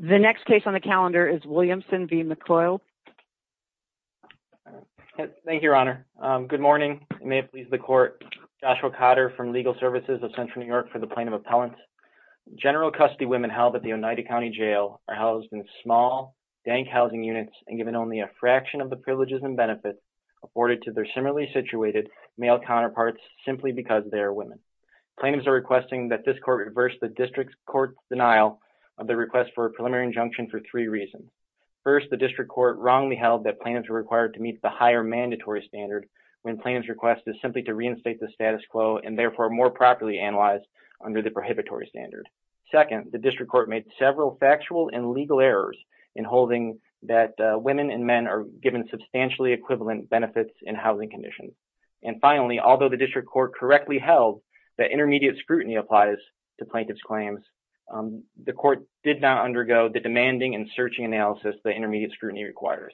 The next case on the calendar is Williamson v. Maicol. Thank you, your honor. Good morning. May it please the court. Joshua Cotter from Legal Services of Central New York for the Plaintiff Appellant. General custody women held at the Oneida County Jail are housed in small, dank housing units and given only a fraction of the privileges and benefits afforded to their similarly situated male counterparts simply because they are women. Plaintiffs are requesting that this court reverse the district court's of the request for a preliminary injunction for three reasons. First, the district court wrongly held that plaintiffs are required to meet the higher mandatory standard when plaintiff's request is simply to reinstate the status quo and therefore more properly analyzed under the prohibitory standard. Second, the district court made several factual and legal errors in holding that women and men are given substantially equivalent benefits in housing conditions. And finally, although the district court correctly held that intermediate scrutiny applies to plaintiff's claims, the court did not undergo the demanding and searching analysis the intermediate scrutiny requires.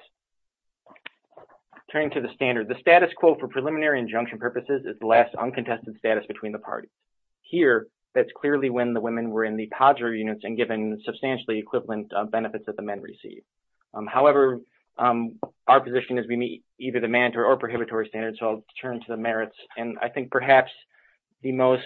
Turning to the standard, the status quo for preliminary injunction purposes is the last uncontested status between the parties. Here, that's clearly when the women were in the padre units and given substantially equivalent benefits that the men receive. However, our position is we meet either the mandatory or prohibitory standards, so I'll turn to the merits. And I think perhaps the most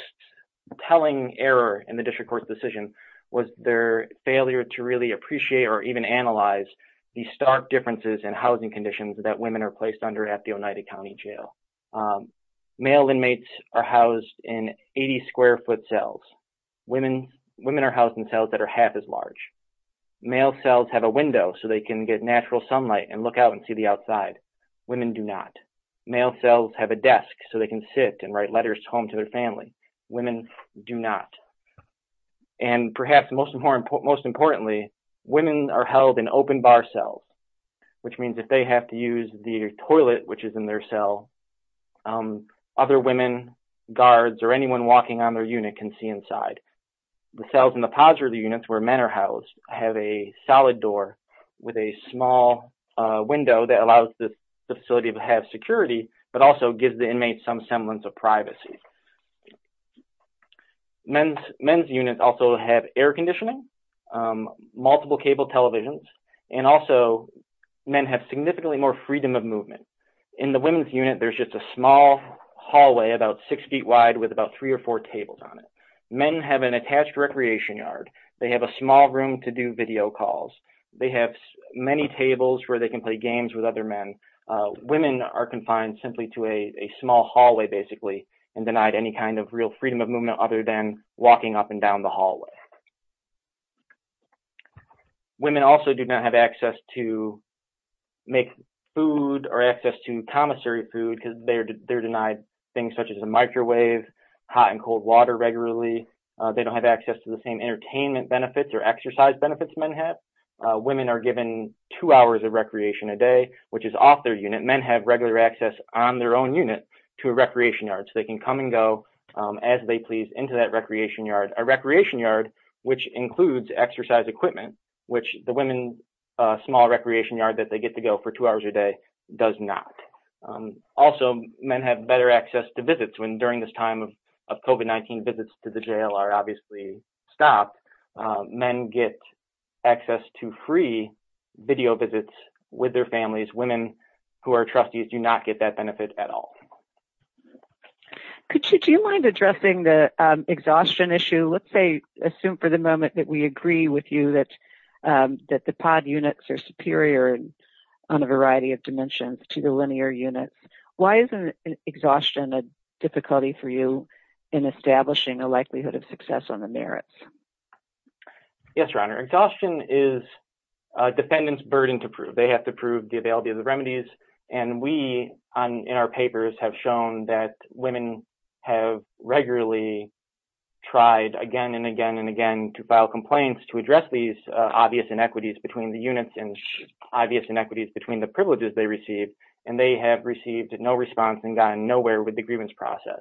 telling error in the district court's decision was their failure to really appreciate or even analyze the stark differences in housing conditions that women are placed under at the Oneida County Jail. Male inmates are housed in 80 square foot cells. Women are housed in cells that are half as large. Male cells have a window so they can get natural sunlight and look out and see the outside. Women do not. Male cells have a desk so they can sit and write letters home to their family. Women do not. And perhaps most importantly, women are held in open bar cells, which means if they have to use the toilet which is in their cell, other women, guards, or anyone walking on their unit can see inside. The cells in the padre units, where men are housed, have a solid door with a small window that allows the facility to have security but also gives the inmates some semblance of privacy. Men's units also have air conditioning, multiple cable televisions, and also men have significantly more freedom of movement. In the women's unit, there's just a small hallway about three or four tables on it. Men have an attached recreation yard. They have a small room to do video calls. They have many tables where they can play games with other men. Women are confined simply to a small hallway basically and denied any kind of real freedom of movement other than walking up and down the hallway. Women also do not have access to make food or access to microwave, hot and cold water regularly. They don't have access to the same entertainment benefits or exercise benefits men have. Women are given two hours of recreation a day, which is off their unit. Men have regular access on their own unit to a recreation yard so they can come and go as they please into that recreation yard. A recreation yard, which includes exercise equipment, which the women's small recreation yard that they get to go for two hours a day does not. Also, men have better access to visits when during this time of COVID-19 visits to the jail are obviously stopped. Men get access to free video visits with their families. Women who are trustees do not get that benefit at all. Do you mind addressing the exhaustion issue? Let's say, assume for the moment that we agree with you that the pod units are superior on a variety of dimensions to the linear units. Why isn't exhaustion a difficulty for you in establishing a likelihood of success on the merits? Yes, Your Honor. Exhaustion is a defendant's burden to prove. They have to prove the availability of the remedies. We, in our papers, have shown that women have regularly tried again and again and again to file complaints to address these obvious inequities between the units and obvious issues. We have received no response and got nowhere with the grievance process.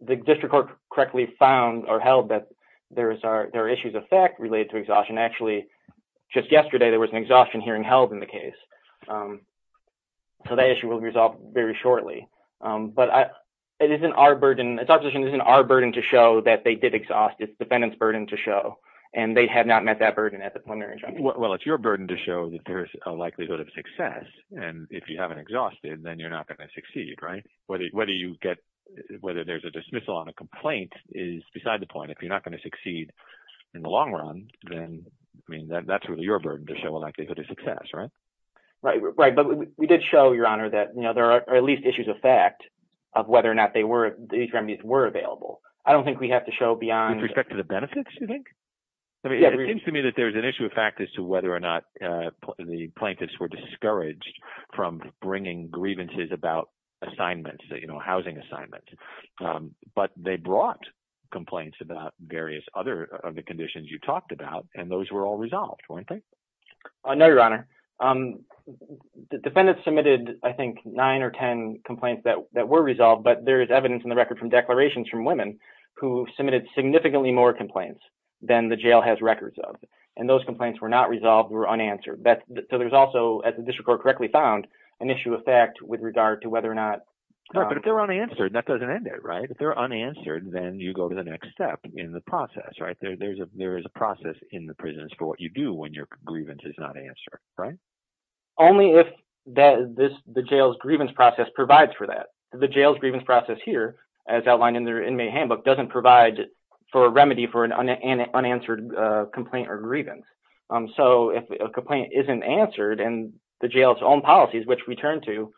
The district court correctly found or held that there are issues of fact related to exhaustion. Actually, just yesterday, there was an exhaustion hearing held in the case. That issue will be resolved very shortly. It's our position that it isn't our burden to show that they did exhaust. It's the defendant's burden to show. They have not met that burden at the preliminary judgment. Well, it's your burden to show that there's a likelihood of success. If you haven't exhausted, then you're not going to succeed, right? Whether there's a dismissal on a complaint is beside the point. If you're not going to succeed in the long run, then that's really your burden to show a likelihood of success, right? Right. We did show, Your Honor, that there are at least issues of fact of whether or not the remedies were available. I don't think we have to show beyond— With respect to the benefits, you think? It seems to me that there's an issue of fact as whether or not the plaintiffs were discouraged from bringing grievances about housing assignments. But they brought complaints about various other of the conditions you talked about, and those were all resolved, weren't they? No, Your Honor. The defendants submitted, I think, nine or ten complaints that were resolved, but there is evidence in the record from declarations from women who submitted significantly more complaints than the jail has records of, and those complaints were not resolved, were unanswered. So there's also, as the district court correctly found, an issue of fact with regard to whether or not— But if they're unanswered, that doesn't end it, right? If they're unanswered, then you go to the next step in the process, right? There is a process in the prisons for what you do when your grievance is not answered, right? Only if the jail's grievance process provides for that. The jail's grievance process here, as outlined in their inmate handbook, doesn't provide for a remedy for an unanswered complaint or grievance. So if a complaint isn't answered and the jail's own policies, which we turn to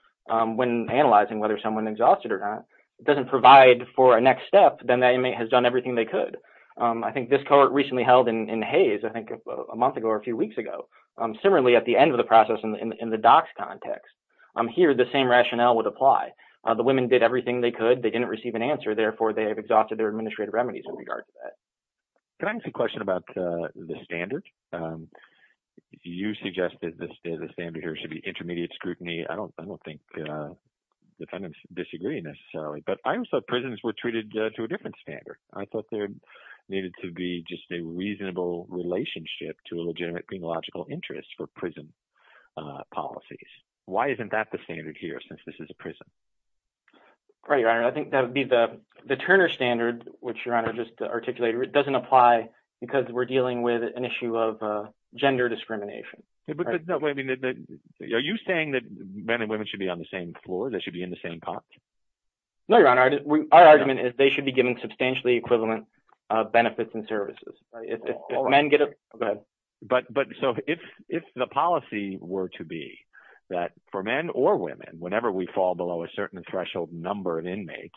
when analyzing whether someone's exhausted or not, doesn't provide for a next step, then that inmate has done everything they could. I think this court recently held in Hays, I think a month ago or a few weeks ago, similarly at the end of the process in the docs context. Here, the same rationale would apply. The women did everything they could. They didn't receive an answer. Therefore, they have exhausted their administrative remedies in regard to that. Can I ask a question about the standard? You suggested the standard here should be intermediate scrutiny. I don't think defendants disagree necessarily, but I also thought prisons were treated to a different standard. I thought there needed to be just a reasonable relationship to a legitimate penological interest for prison policies. Why isn't that the standard here, since this is a prison? Right, Your Honor. I think that would be the Turner standard, which Your Honor just articulated. It doesn't apply because we're dealing with an issue of gender discrimination. Are you saying that men and women should be on the same floor? They should be in the same context? No, Your Honor. Our argument is they should be given substantially equivalent benefits and services. But so if the policy were to be that for men or women, whenever we fall below a certain threshold number of inmates,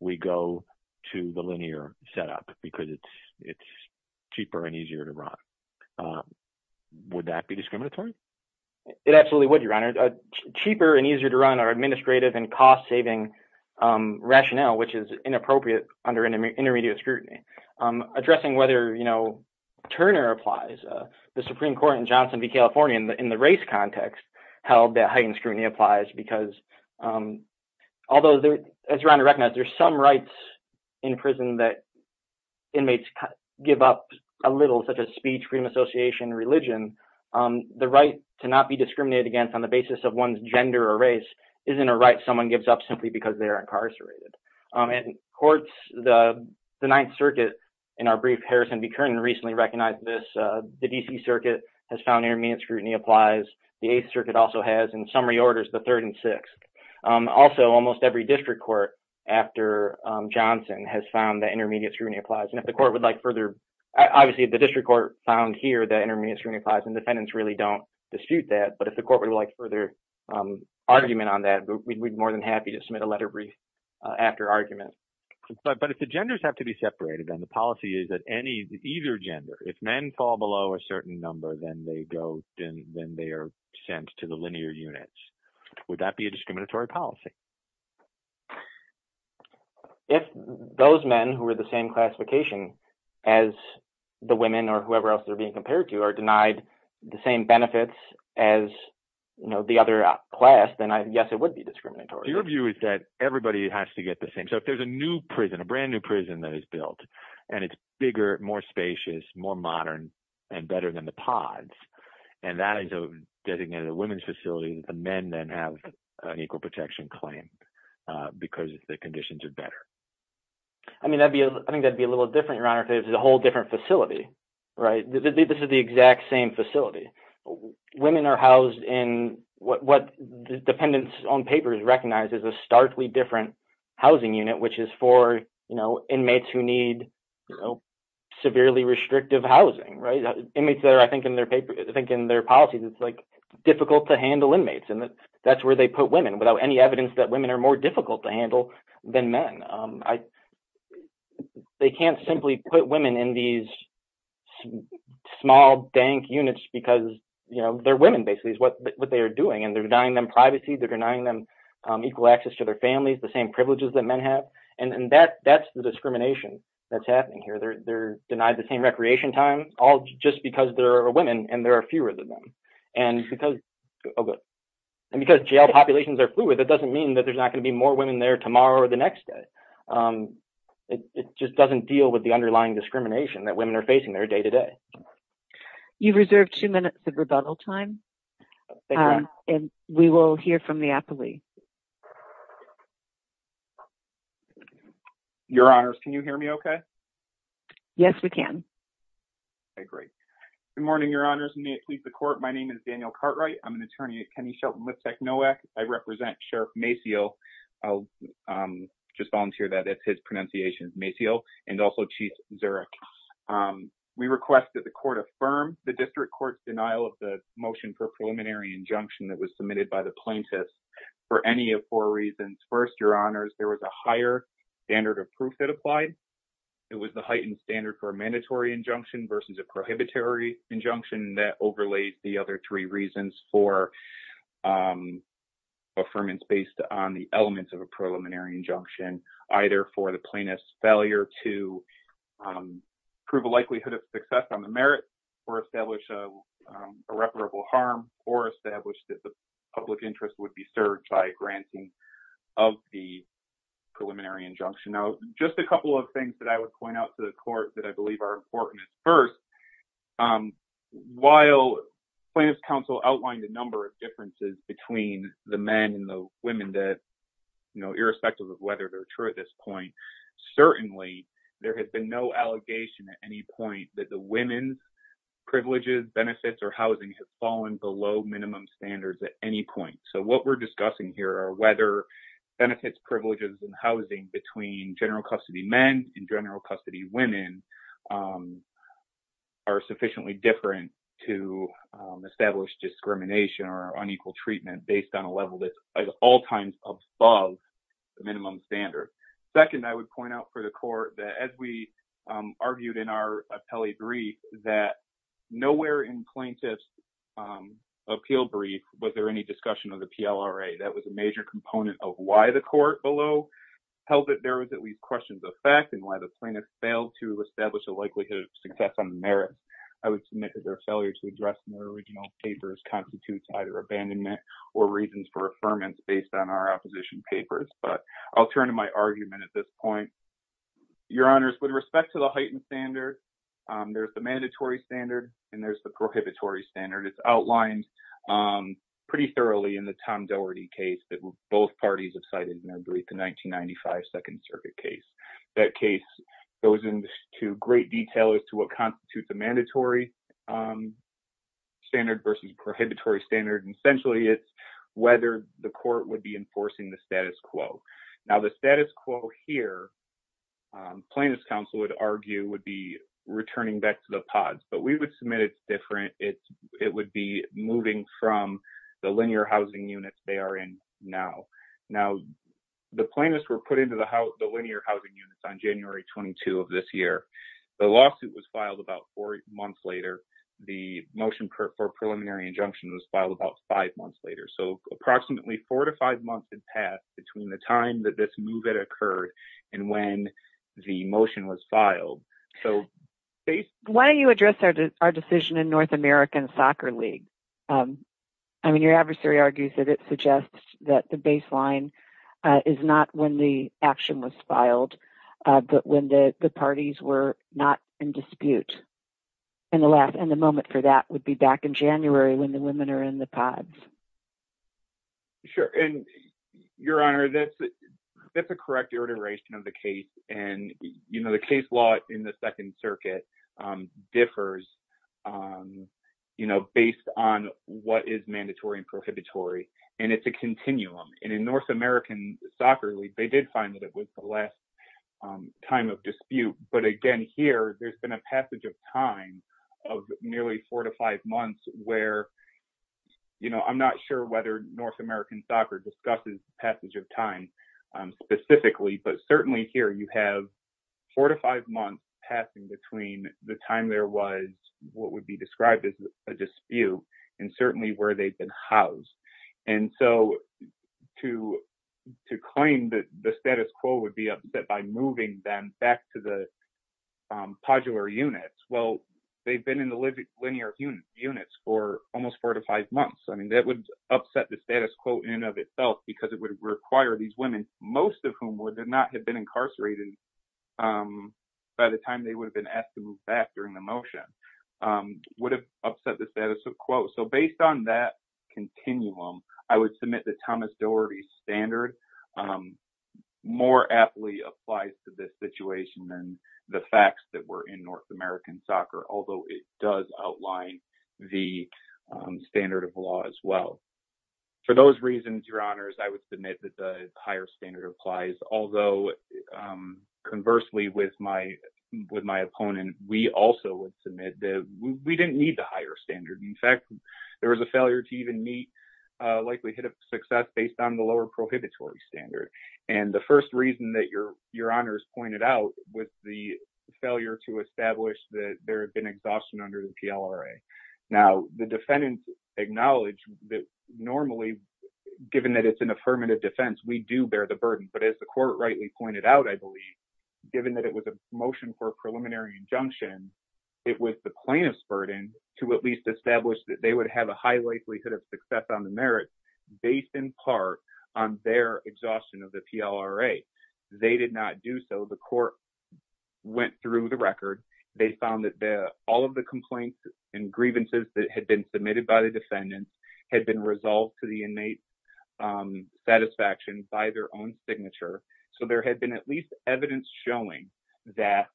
we go to the linear setup because it's cheaper and easier to run. Would that be discriminatory? It absolutely would, Your Honor. Cheaper and easier to run are administrative and cost-saving rationale, which is inappropriate under intermediate scrutiny. Addressing whether Turner applies, the Supreme Court in Johnson v. California, in the race context, held that heightened scrutiny applies because, although, as Your Honor recognizes, there are some rights in prison that inmates give up a little, such as speech, freedom of association, religion. The right to not be discriminated against on the basis of one's gender or race isn't a right someone gives up simply because they are incarcerated. In courts, the Ninth Circuit, in our brief, Harrison v. Kern, recently recognized this. The D.C. Circuit has found intermediate scrutiny applies. The Eighth Circuit also has, in summary orders, the Third and Sixth. Also, almost every district court, after Johnson, has found that intermediate scrutiny applies. And if the court would like further, obviously, the district court found here that intermediate scrutiny applies, and defendants really don't dispute that. But if the court would like further argument on that, we'd be more than happy to submit a letter brief after argument. But if the genders have to be separated, then the policy is that any, either gender, if men fall below a certain number, then they go, then they are sent to the linear units. Would that be a discriminatory policy? If those men who are the same classification as the women or whoever else they're being compared to are denied the same benefits as, you know, the other class, then yes, it would be discriminatory. Your view is that everybody has to get the same. So if there's a new prison, a brand new prison that is built, and it's bigger, more spacious, more modern, and better than the pods, and that is a designated women's facility, the men then have an equal protection claim because the conditions are better. I mean, I think that'd be a little different, Your Honor, if it was a whole different facility, right? This is the exact same facility. Women are housed in what the defendants on paper has recognized as a starkly different housing unit, which is for, you know, inmates who need, you know, severely restrictive housing, right? Inmates that are, I think in their paper, I think in their policies, it's like difficult to handle inmates, and that's where they put women without any evidence that women are more difficult to handle than men. They can't simply put women in these small, dank units because, you know, they're women, basically, is what they are doing, and they're denying them privacy, they're denying them equal access to their families, the same privileges that men have, and that's the discrimination that's happening here. They're denied the same recreation time, all just because there are women and there are fewer than them, and because jail populations are fluid, that doesn't mean that there's not going to be more women there tomorrow or the next day. It just doesn't deal with the underlying discrimination that women are facing their day-to-day. You've reserved two minutes of rebuttal time, and we will hear from the appellee. Your Honors, can you hear me okay? Yes, we can. I agree. Good morning, Your Honors, and may it please the Court, my name is Daniel Cartwright. I'm an attorney at Kennedy Shelton Liftec NOAC. I represent Sheriff Maciel, I'll just volunteer that, that's his pronunciation, Maciel, and also Chief Zurich. We request that the Court affirm the District Court's denial of the motion for a preliminary injunction that was submitted by the plaintiff for any of four reasons. First, Your Honors, there was a higher standard of proof that applied. It was the heightened standard for a mandatory injunction versus a prohibitory injunction that overlaid the other three reasons for affirmance based on the elements of a preliminary injunction, either for the plaintiff's failure to prove a likelihood of success on the merits or establish irreparable harm or establish that the public interest would be served by granting of the preliminary injunction. Now, just a couple of things that I would point out to the Court that I believe are important. First, while plaintiff's counsel outlined a number of differences between the men and the women that, you know, irrespective of whether they're true at this point, certainly there has been no allegation at any point that the women's privileges, benefits, or housing has fallen below minimum standards at any point. So, what we're discussing here are whether benefits, privileges, and housing between general custody men and general custody women are sufficiently different to establish discrimination or unequal treatment based on a level that's at all times above the minimum standard. Second, I would point out for the Court that as we argued in our appellee brief that nowhere in plaintiff's appeal brief was there any discussion of the PLRA. That was a major component of why the Court below held that there was at least questions of fact and why the plaintiff failed to establish a likelihood of success on the merits. I would submit that their failure to address the original papers constitutes either abandonment or reasons for affirmance based on our opposition papers, but I'll turn to my argument at this point. Your Honors, with respect to the heightened standard, there's the mandatory standard and there's the prohibitory standard. It's outlined pretty thoroughly in the Tom Doherty case that both parties have cited in their brief, the 1995 Second Circuit case. That case goes into great detail as to what constitutes a mandatory standard versus prohibitory standard. Essentially, it's whether the Court would be enforcing the status quo. Now, the status quo here, plaintiff's counsel would argue, would be returning back to the pods, but we would submit it's different. It would be moving from the linear housing units they are in now. Now, the plaintiffs were put into the linear housing units on January 22 of this year. The motion for preliminary injunction was filed about five months later, so approximately four to five months had passed between the time that this move had occurred and when the motion was filed. Why don't you address our decision in North American Soccer League? I mean, your adversary argues that it suggests that the baseline is not when the action was filed, but when the parties were not in dispute. The moment for that would be back in January when the women are in the pods. Sure. Your Honor, that's a correct iteration of the case. The case law in the Second Circuit differs based on what is mandatory and prohibitory. It's a continuum. In North American Soccer League, they did find that it was the last time of dispute, but again, here, there's been a passage of time of nearly four to five months where I'm not sure whether North American Soccer discusses passage of time specifically, but certainly here you have four to five months passing between the time there was what would be described as a dispute and certainly where they've been housed. And so to claim that the status quo would be upset by moving them back to the podular units, well, they've been in the linear units for almost four to five months. I mean, that would upset the status quo in and of itself because it would require these women, most of whom would not have been incarcerated by the time they would have been asked to move back during the motion, would have upset the status quo. So based on that continuum, I would submit that Thomas Doherty's standard more aptly applies to this situation than the facts that were in North American Soccer, although it does outline the standard of law as well. For those reasons, Your Honors, I would submit that the higher standard applies, although conversely with my opponent, we also would submit that we didn't need the higher standard. In fact, there was a failure to even meet likelihood of success based on the lower prohibitory standard. And the first reason that Your Honors pointed out was the failure to establish that there had been exhaustion under the PLRA. Now, the defendants acknowledge that normally, given that it's an affirmative defense, we do bear the burden. But as the court rightly pointed out, I believe, given that it was a preliminary injunction, it was the plaintiff's burden to at least establish that they would have a high likelihood of success on the merits based in part on their exhaustion of the PLRA. They did not do so. The court went through the record. They found that all of the complaints and grievances that had been submitted by the defendants had been resolved to the inmate's own signature. So, there had been at least evidence showing that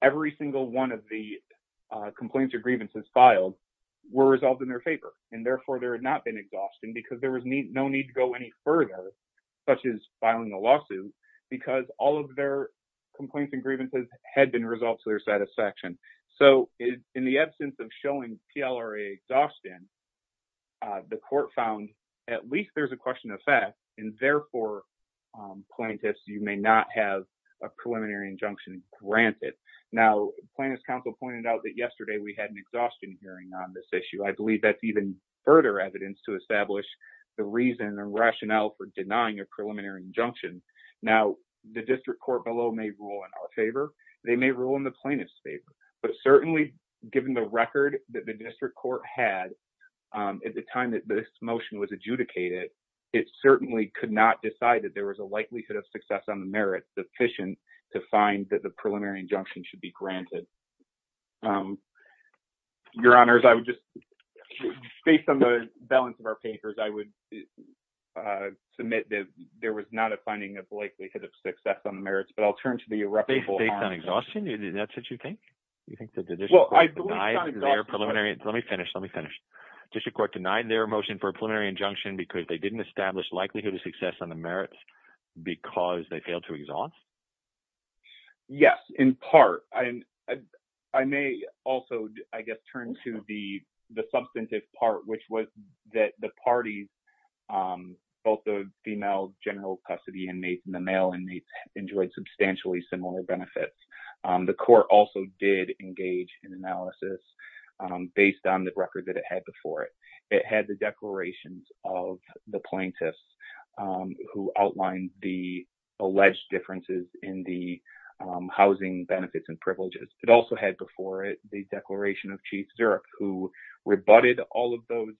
every single one of the complaints or grievances filed were resolved in their favor. And therefore, there had not been exhaustion because there was no need to go any further, such as filing a lawsuit, because all of their complaints and grievances had been resolved to their satisfaction. So, in the absence of showing PLRA exhaustion, the court found at least there's a question of therefore, plaintiffs, you may not have a preliminary injunction granted. Now, plaintiff's counsel pointed out that yesterday we had an exhaustion hearing on this issue. I believe that's even further evidence to establish the reason and rationale for denying a preliminary injunction. Now, the district court below may rule in our favor. They may rule in the plaintiff's favor. But certainly, given the record that the district court had at the time that this motion was adjudicated, it certainly could not decide that there was a likelihood of success on the merits sufficient to find that the preliminary injunction should be granted. Your Honors, I would just, based on the balance of our papers, I would submit that there was not a finding of likelihood of success on the merits, but I'll turn to the irreparable harm. Based on exhaustion? That's what you think? You think that the district court denied their preliminary? Let me finish. Let me because they didn't establish likelihood of success on the merits because they failed to exhaust? Yes, in part. I may also, I guess, turn to the substantive part, which was that the parties, both the female general custody inmates and the male inmates enjoyed substantially similar benefits. The court also did engage in analysis based on the record that it had before it. It the declarations of the plaintiffs who outlined the alleged differences in the housing benefits and privileges. It also had before it the declaration of Chief Zirup, who rebutted all of those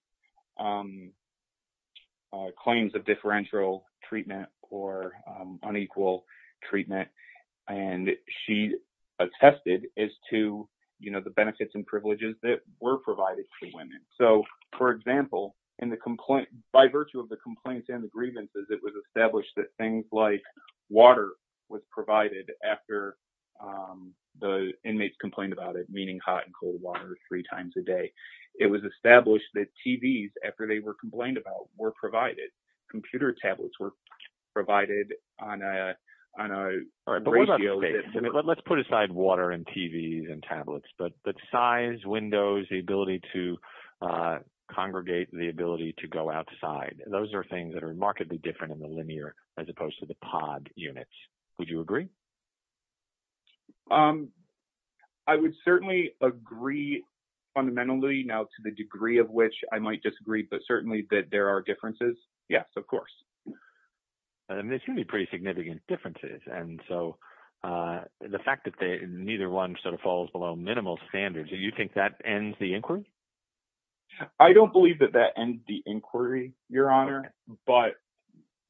claims of differential treatment or unequal treatment. She attested as to the benefits and in the complaint, by virtue of the complaints and the grievances, it was established that things like water was provided after the inmates complained about it, meaning hot and cold water three times a day. It was established that TVs, after they were complained about, were provided. Computer tablets were provided on a ratio basis. Let's put aside water and TVs and tablets, but size, windows, the ability to congregate, the ability to go outside. Those are things that are remarkably different in the linear as opposed to the pod units. Would you agree? I would certainly agree fundamentally. Now, to the degree of which I might disagree, but certainly that there are differences. Yes, of course. There's going to be pretty minimal standards. Do you think that ends the inquiry? I don't believe that that ends the inquiry, Your Honor, but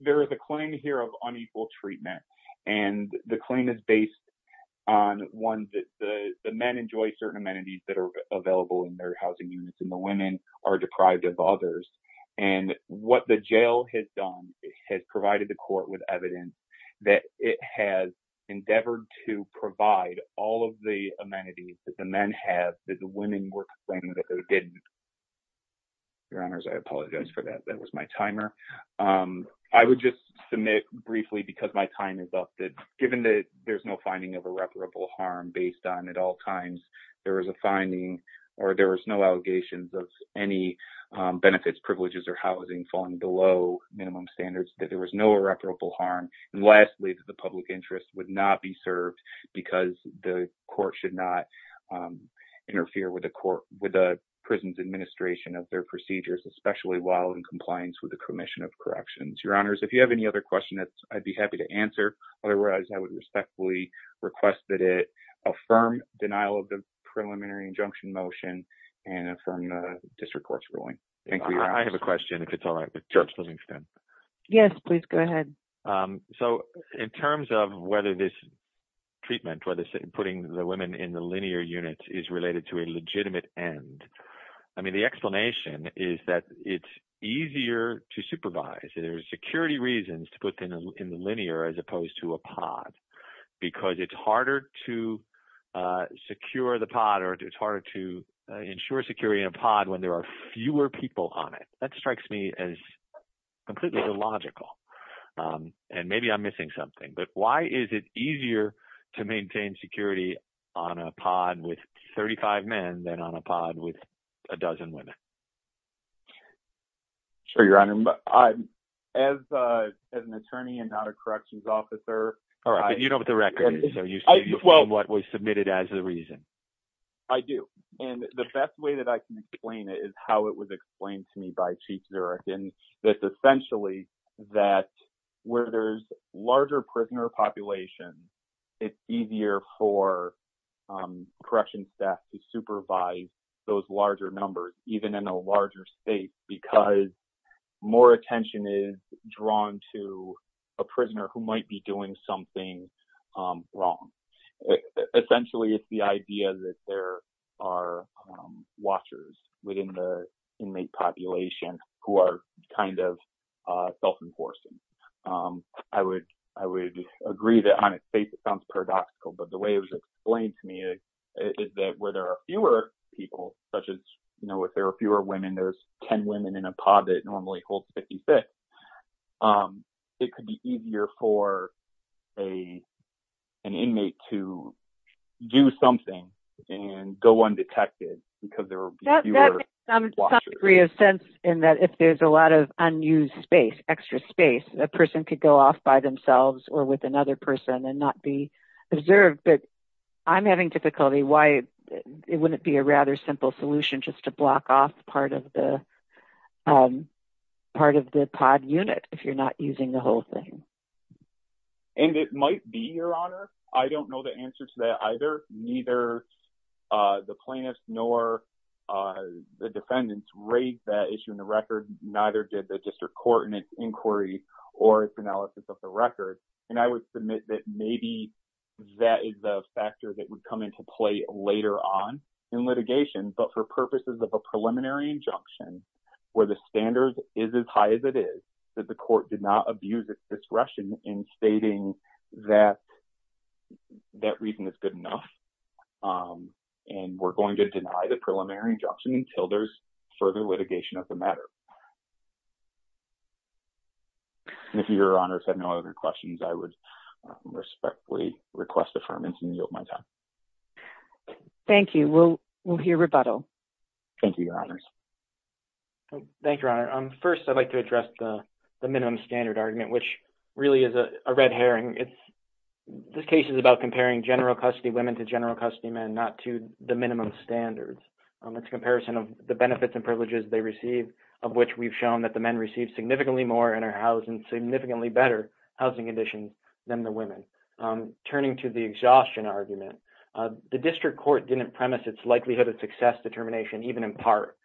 there is a claim here of unequal treatment. The claim is based on one that the men enjoy certain amenities that are available in their housing units and the women are deprived of others. What the jail has done is provided the court with evidence that it has endeavored to provide all of the amenities that the men have that the women were complaining that they didn't. Your Honors, I apologize for that. That was my timer. I would just submit briefly, because my time is up, that given that there's no finding of irreparable harm based on at all times there was a finding or there was no allegations of any harm. Lastly, the public interest would not be served because the court should not interfere with the prison's administration of their procedures, especially while in compliance with the Commission of Corrections. Your Honors, if you have any other questions, I'd be happy to answer. Otherwise, I would respectfully request that it affirm denial of the preliminary injunction motion and affirm the district court's ruling. I have a question if it's all right. Yes, please go ahead. In terms of whether this treatment, whether putting the women in the linear units is related to a legitimate end, I mean, the explanation is that it's easier to supervise. There's security reasons to put them in the linear as opposed to a pod because it's harder to secure the pod or it's harder to ensure security in a pod when there are fewer people on it. That strikes me as completely illogical, and maybe I'm missing something, but why is it easier to maintain security on a pod with 35 men than on a pod with a dozen women? Sure, Your Honor. As an attorney and not a corrections officer... All right, but you know what the record is, so you say you find what was submitted as the reason. I do, and the best way that I can explain it is how it was explained to me by Chief Zurich, and that's essentially that where there's larger prisoner populations, it's easier for corrections staff to supervise those larger numbers, even in a larger state, because more attention is drawn to a prisoner who might be doing something wrong. Essentially, it's the idea that there are watchers within the inmate population who are kind of self-enforcing. I would agree that on its face it sounds paradoxical, but the way it was explained to me is that where there are fewer people, such as if there are fewer women, there's 10 women in and go undetected because there are fewer watchers. That makes some degree of sense in that if there's a lot of unused space, extra space, a person could go off by themselves or with another person and not be observed, but I'm having difficulty why it wouldn't be a rather simple solution just to block off part of the pod unit if you're not using the whole thing. And it might be, Your Honor. I don't know the answer to that either. Neither the plaintiffs nor the defendants raised that issue in the record. Neither did the district court in its inquiry or its analysis of the record, and I would submit that maybe that is the factor that would come into play later on in litigation, but for purposes of a preliminary injunction where the stating that reason is good enough and we're going to deny the preliminary injunction until there's further litigation of the matter. And if Your Honor has no other questions, I would respectfully request affirmation and yield my time. Thank you. We'll hear rebuttal. Thank you, Your Honors. Thank you, Your Honor. First, I'd like to address the minimum standard argument, which really is a red herring. This case is about comparing general custody women to general custody men, not to the minimum standards. It's a comparison of the benefits and privileges they receive, of which we've shown that the men receive significantly more and are housed in significantly better housing conditions than the women. Turning to the exhaustion argument, the district court didn't premise its likelihood of success determination even in part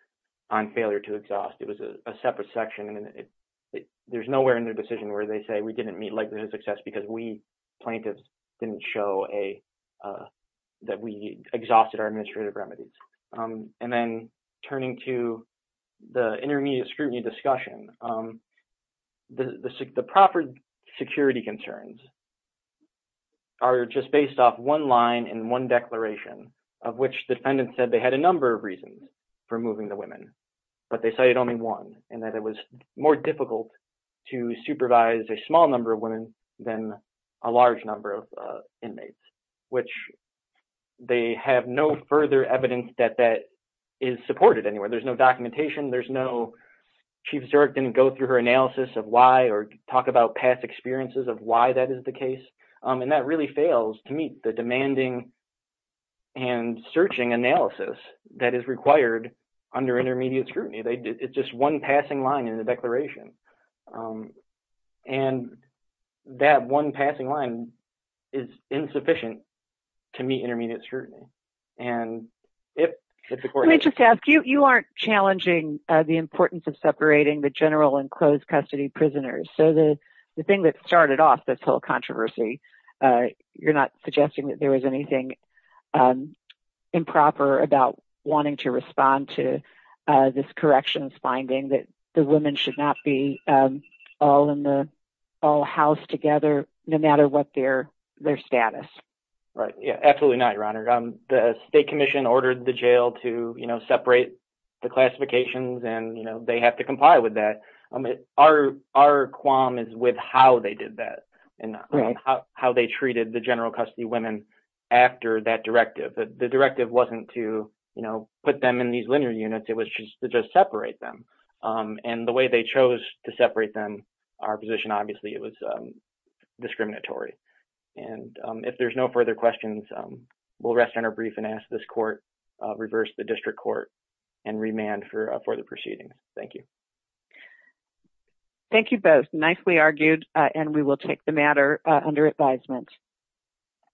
on failure to exhaust. It was a separate section, and there's nowhere in their decision where they say we didn't meet likelihood of success because plaintiffs didn't show that we exhausted our administrative remedies. And then turning to the intermediate scrutiny discussion, the proper security concerns are just based off one line and one declaration, of which defendants said they had a number of reasons for moving the women, but they cited only one, and that it was more difficult to supervise a small number of women than a large number of inmates, which they have no further evidence that that is supported anywhere. There's no documentation. Chief Zurek didn't go through her analysis of why or talk about past experiences of the case, and that really fails to meet the demanding and searching analysis that is required under intermediate scrutiny. It's just one passing line in the declaration, and that one passing line is insufficient to meet intermediate scrutiny. You aren't challenging the importance of separating the general and closed custody prisoners. So the thing that started off this whole controversy, you're not suggesting that there was anything improper about wanting to respond to this corrections finding that the women should not be all housed together, no matter what their status. Absolutely not, Your Honor. The state commission ordered the jail to separate the classifications, and they have to comply with that. Our qualm is with how they did that and how they treated the general custody women after that directive. The directive wasn't to put them in these linear units. It was just to separate them. The way they chose to separate them, our position, obviously, it was discriminatory. If there's no further questions, we'll rest on our brief and ask this court and remand for the proceeding. Thank you. Thank you both. Nicely argued, and we will take the matter under advisement.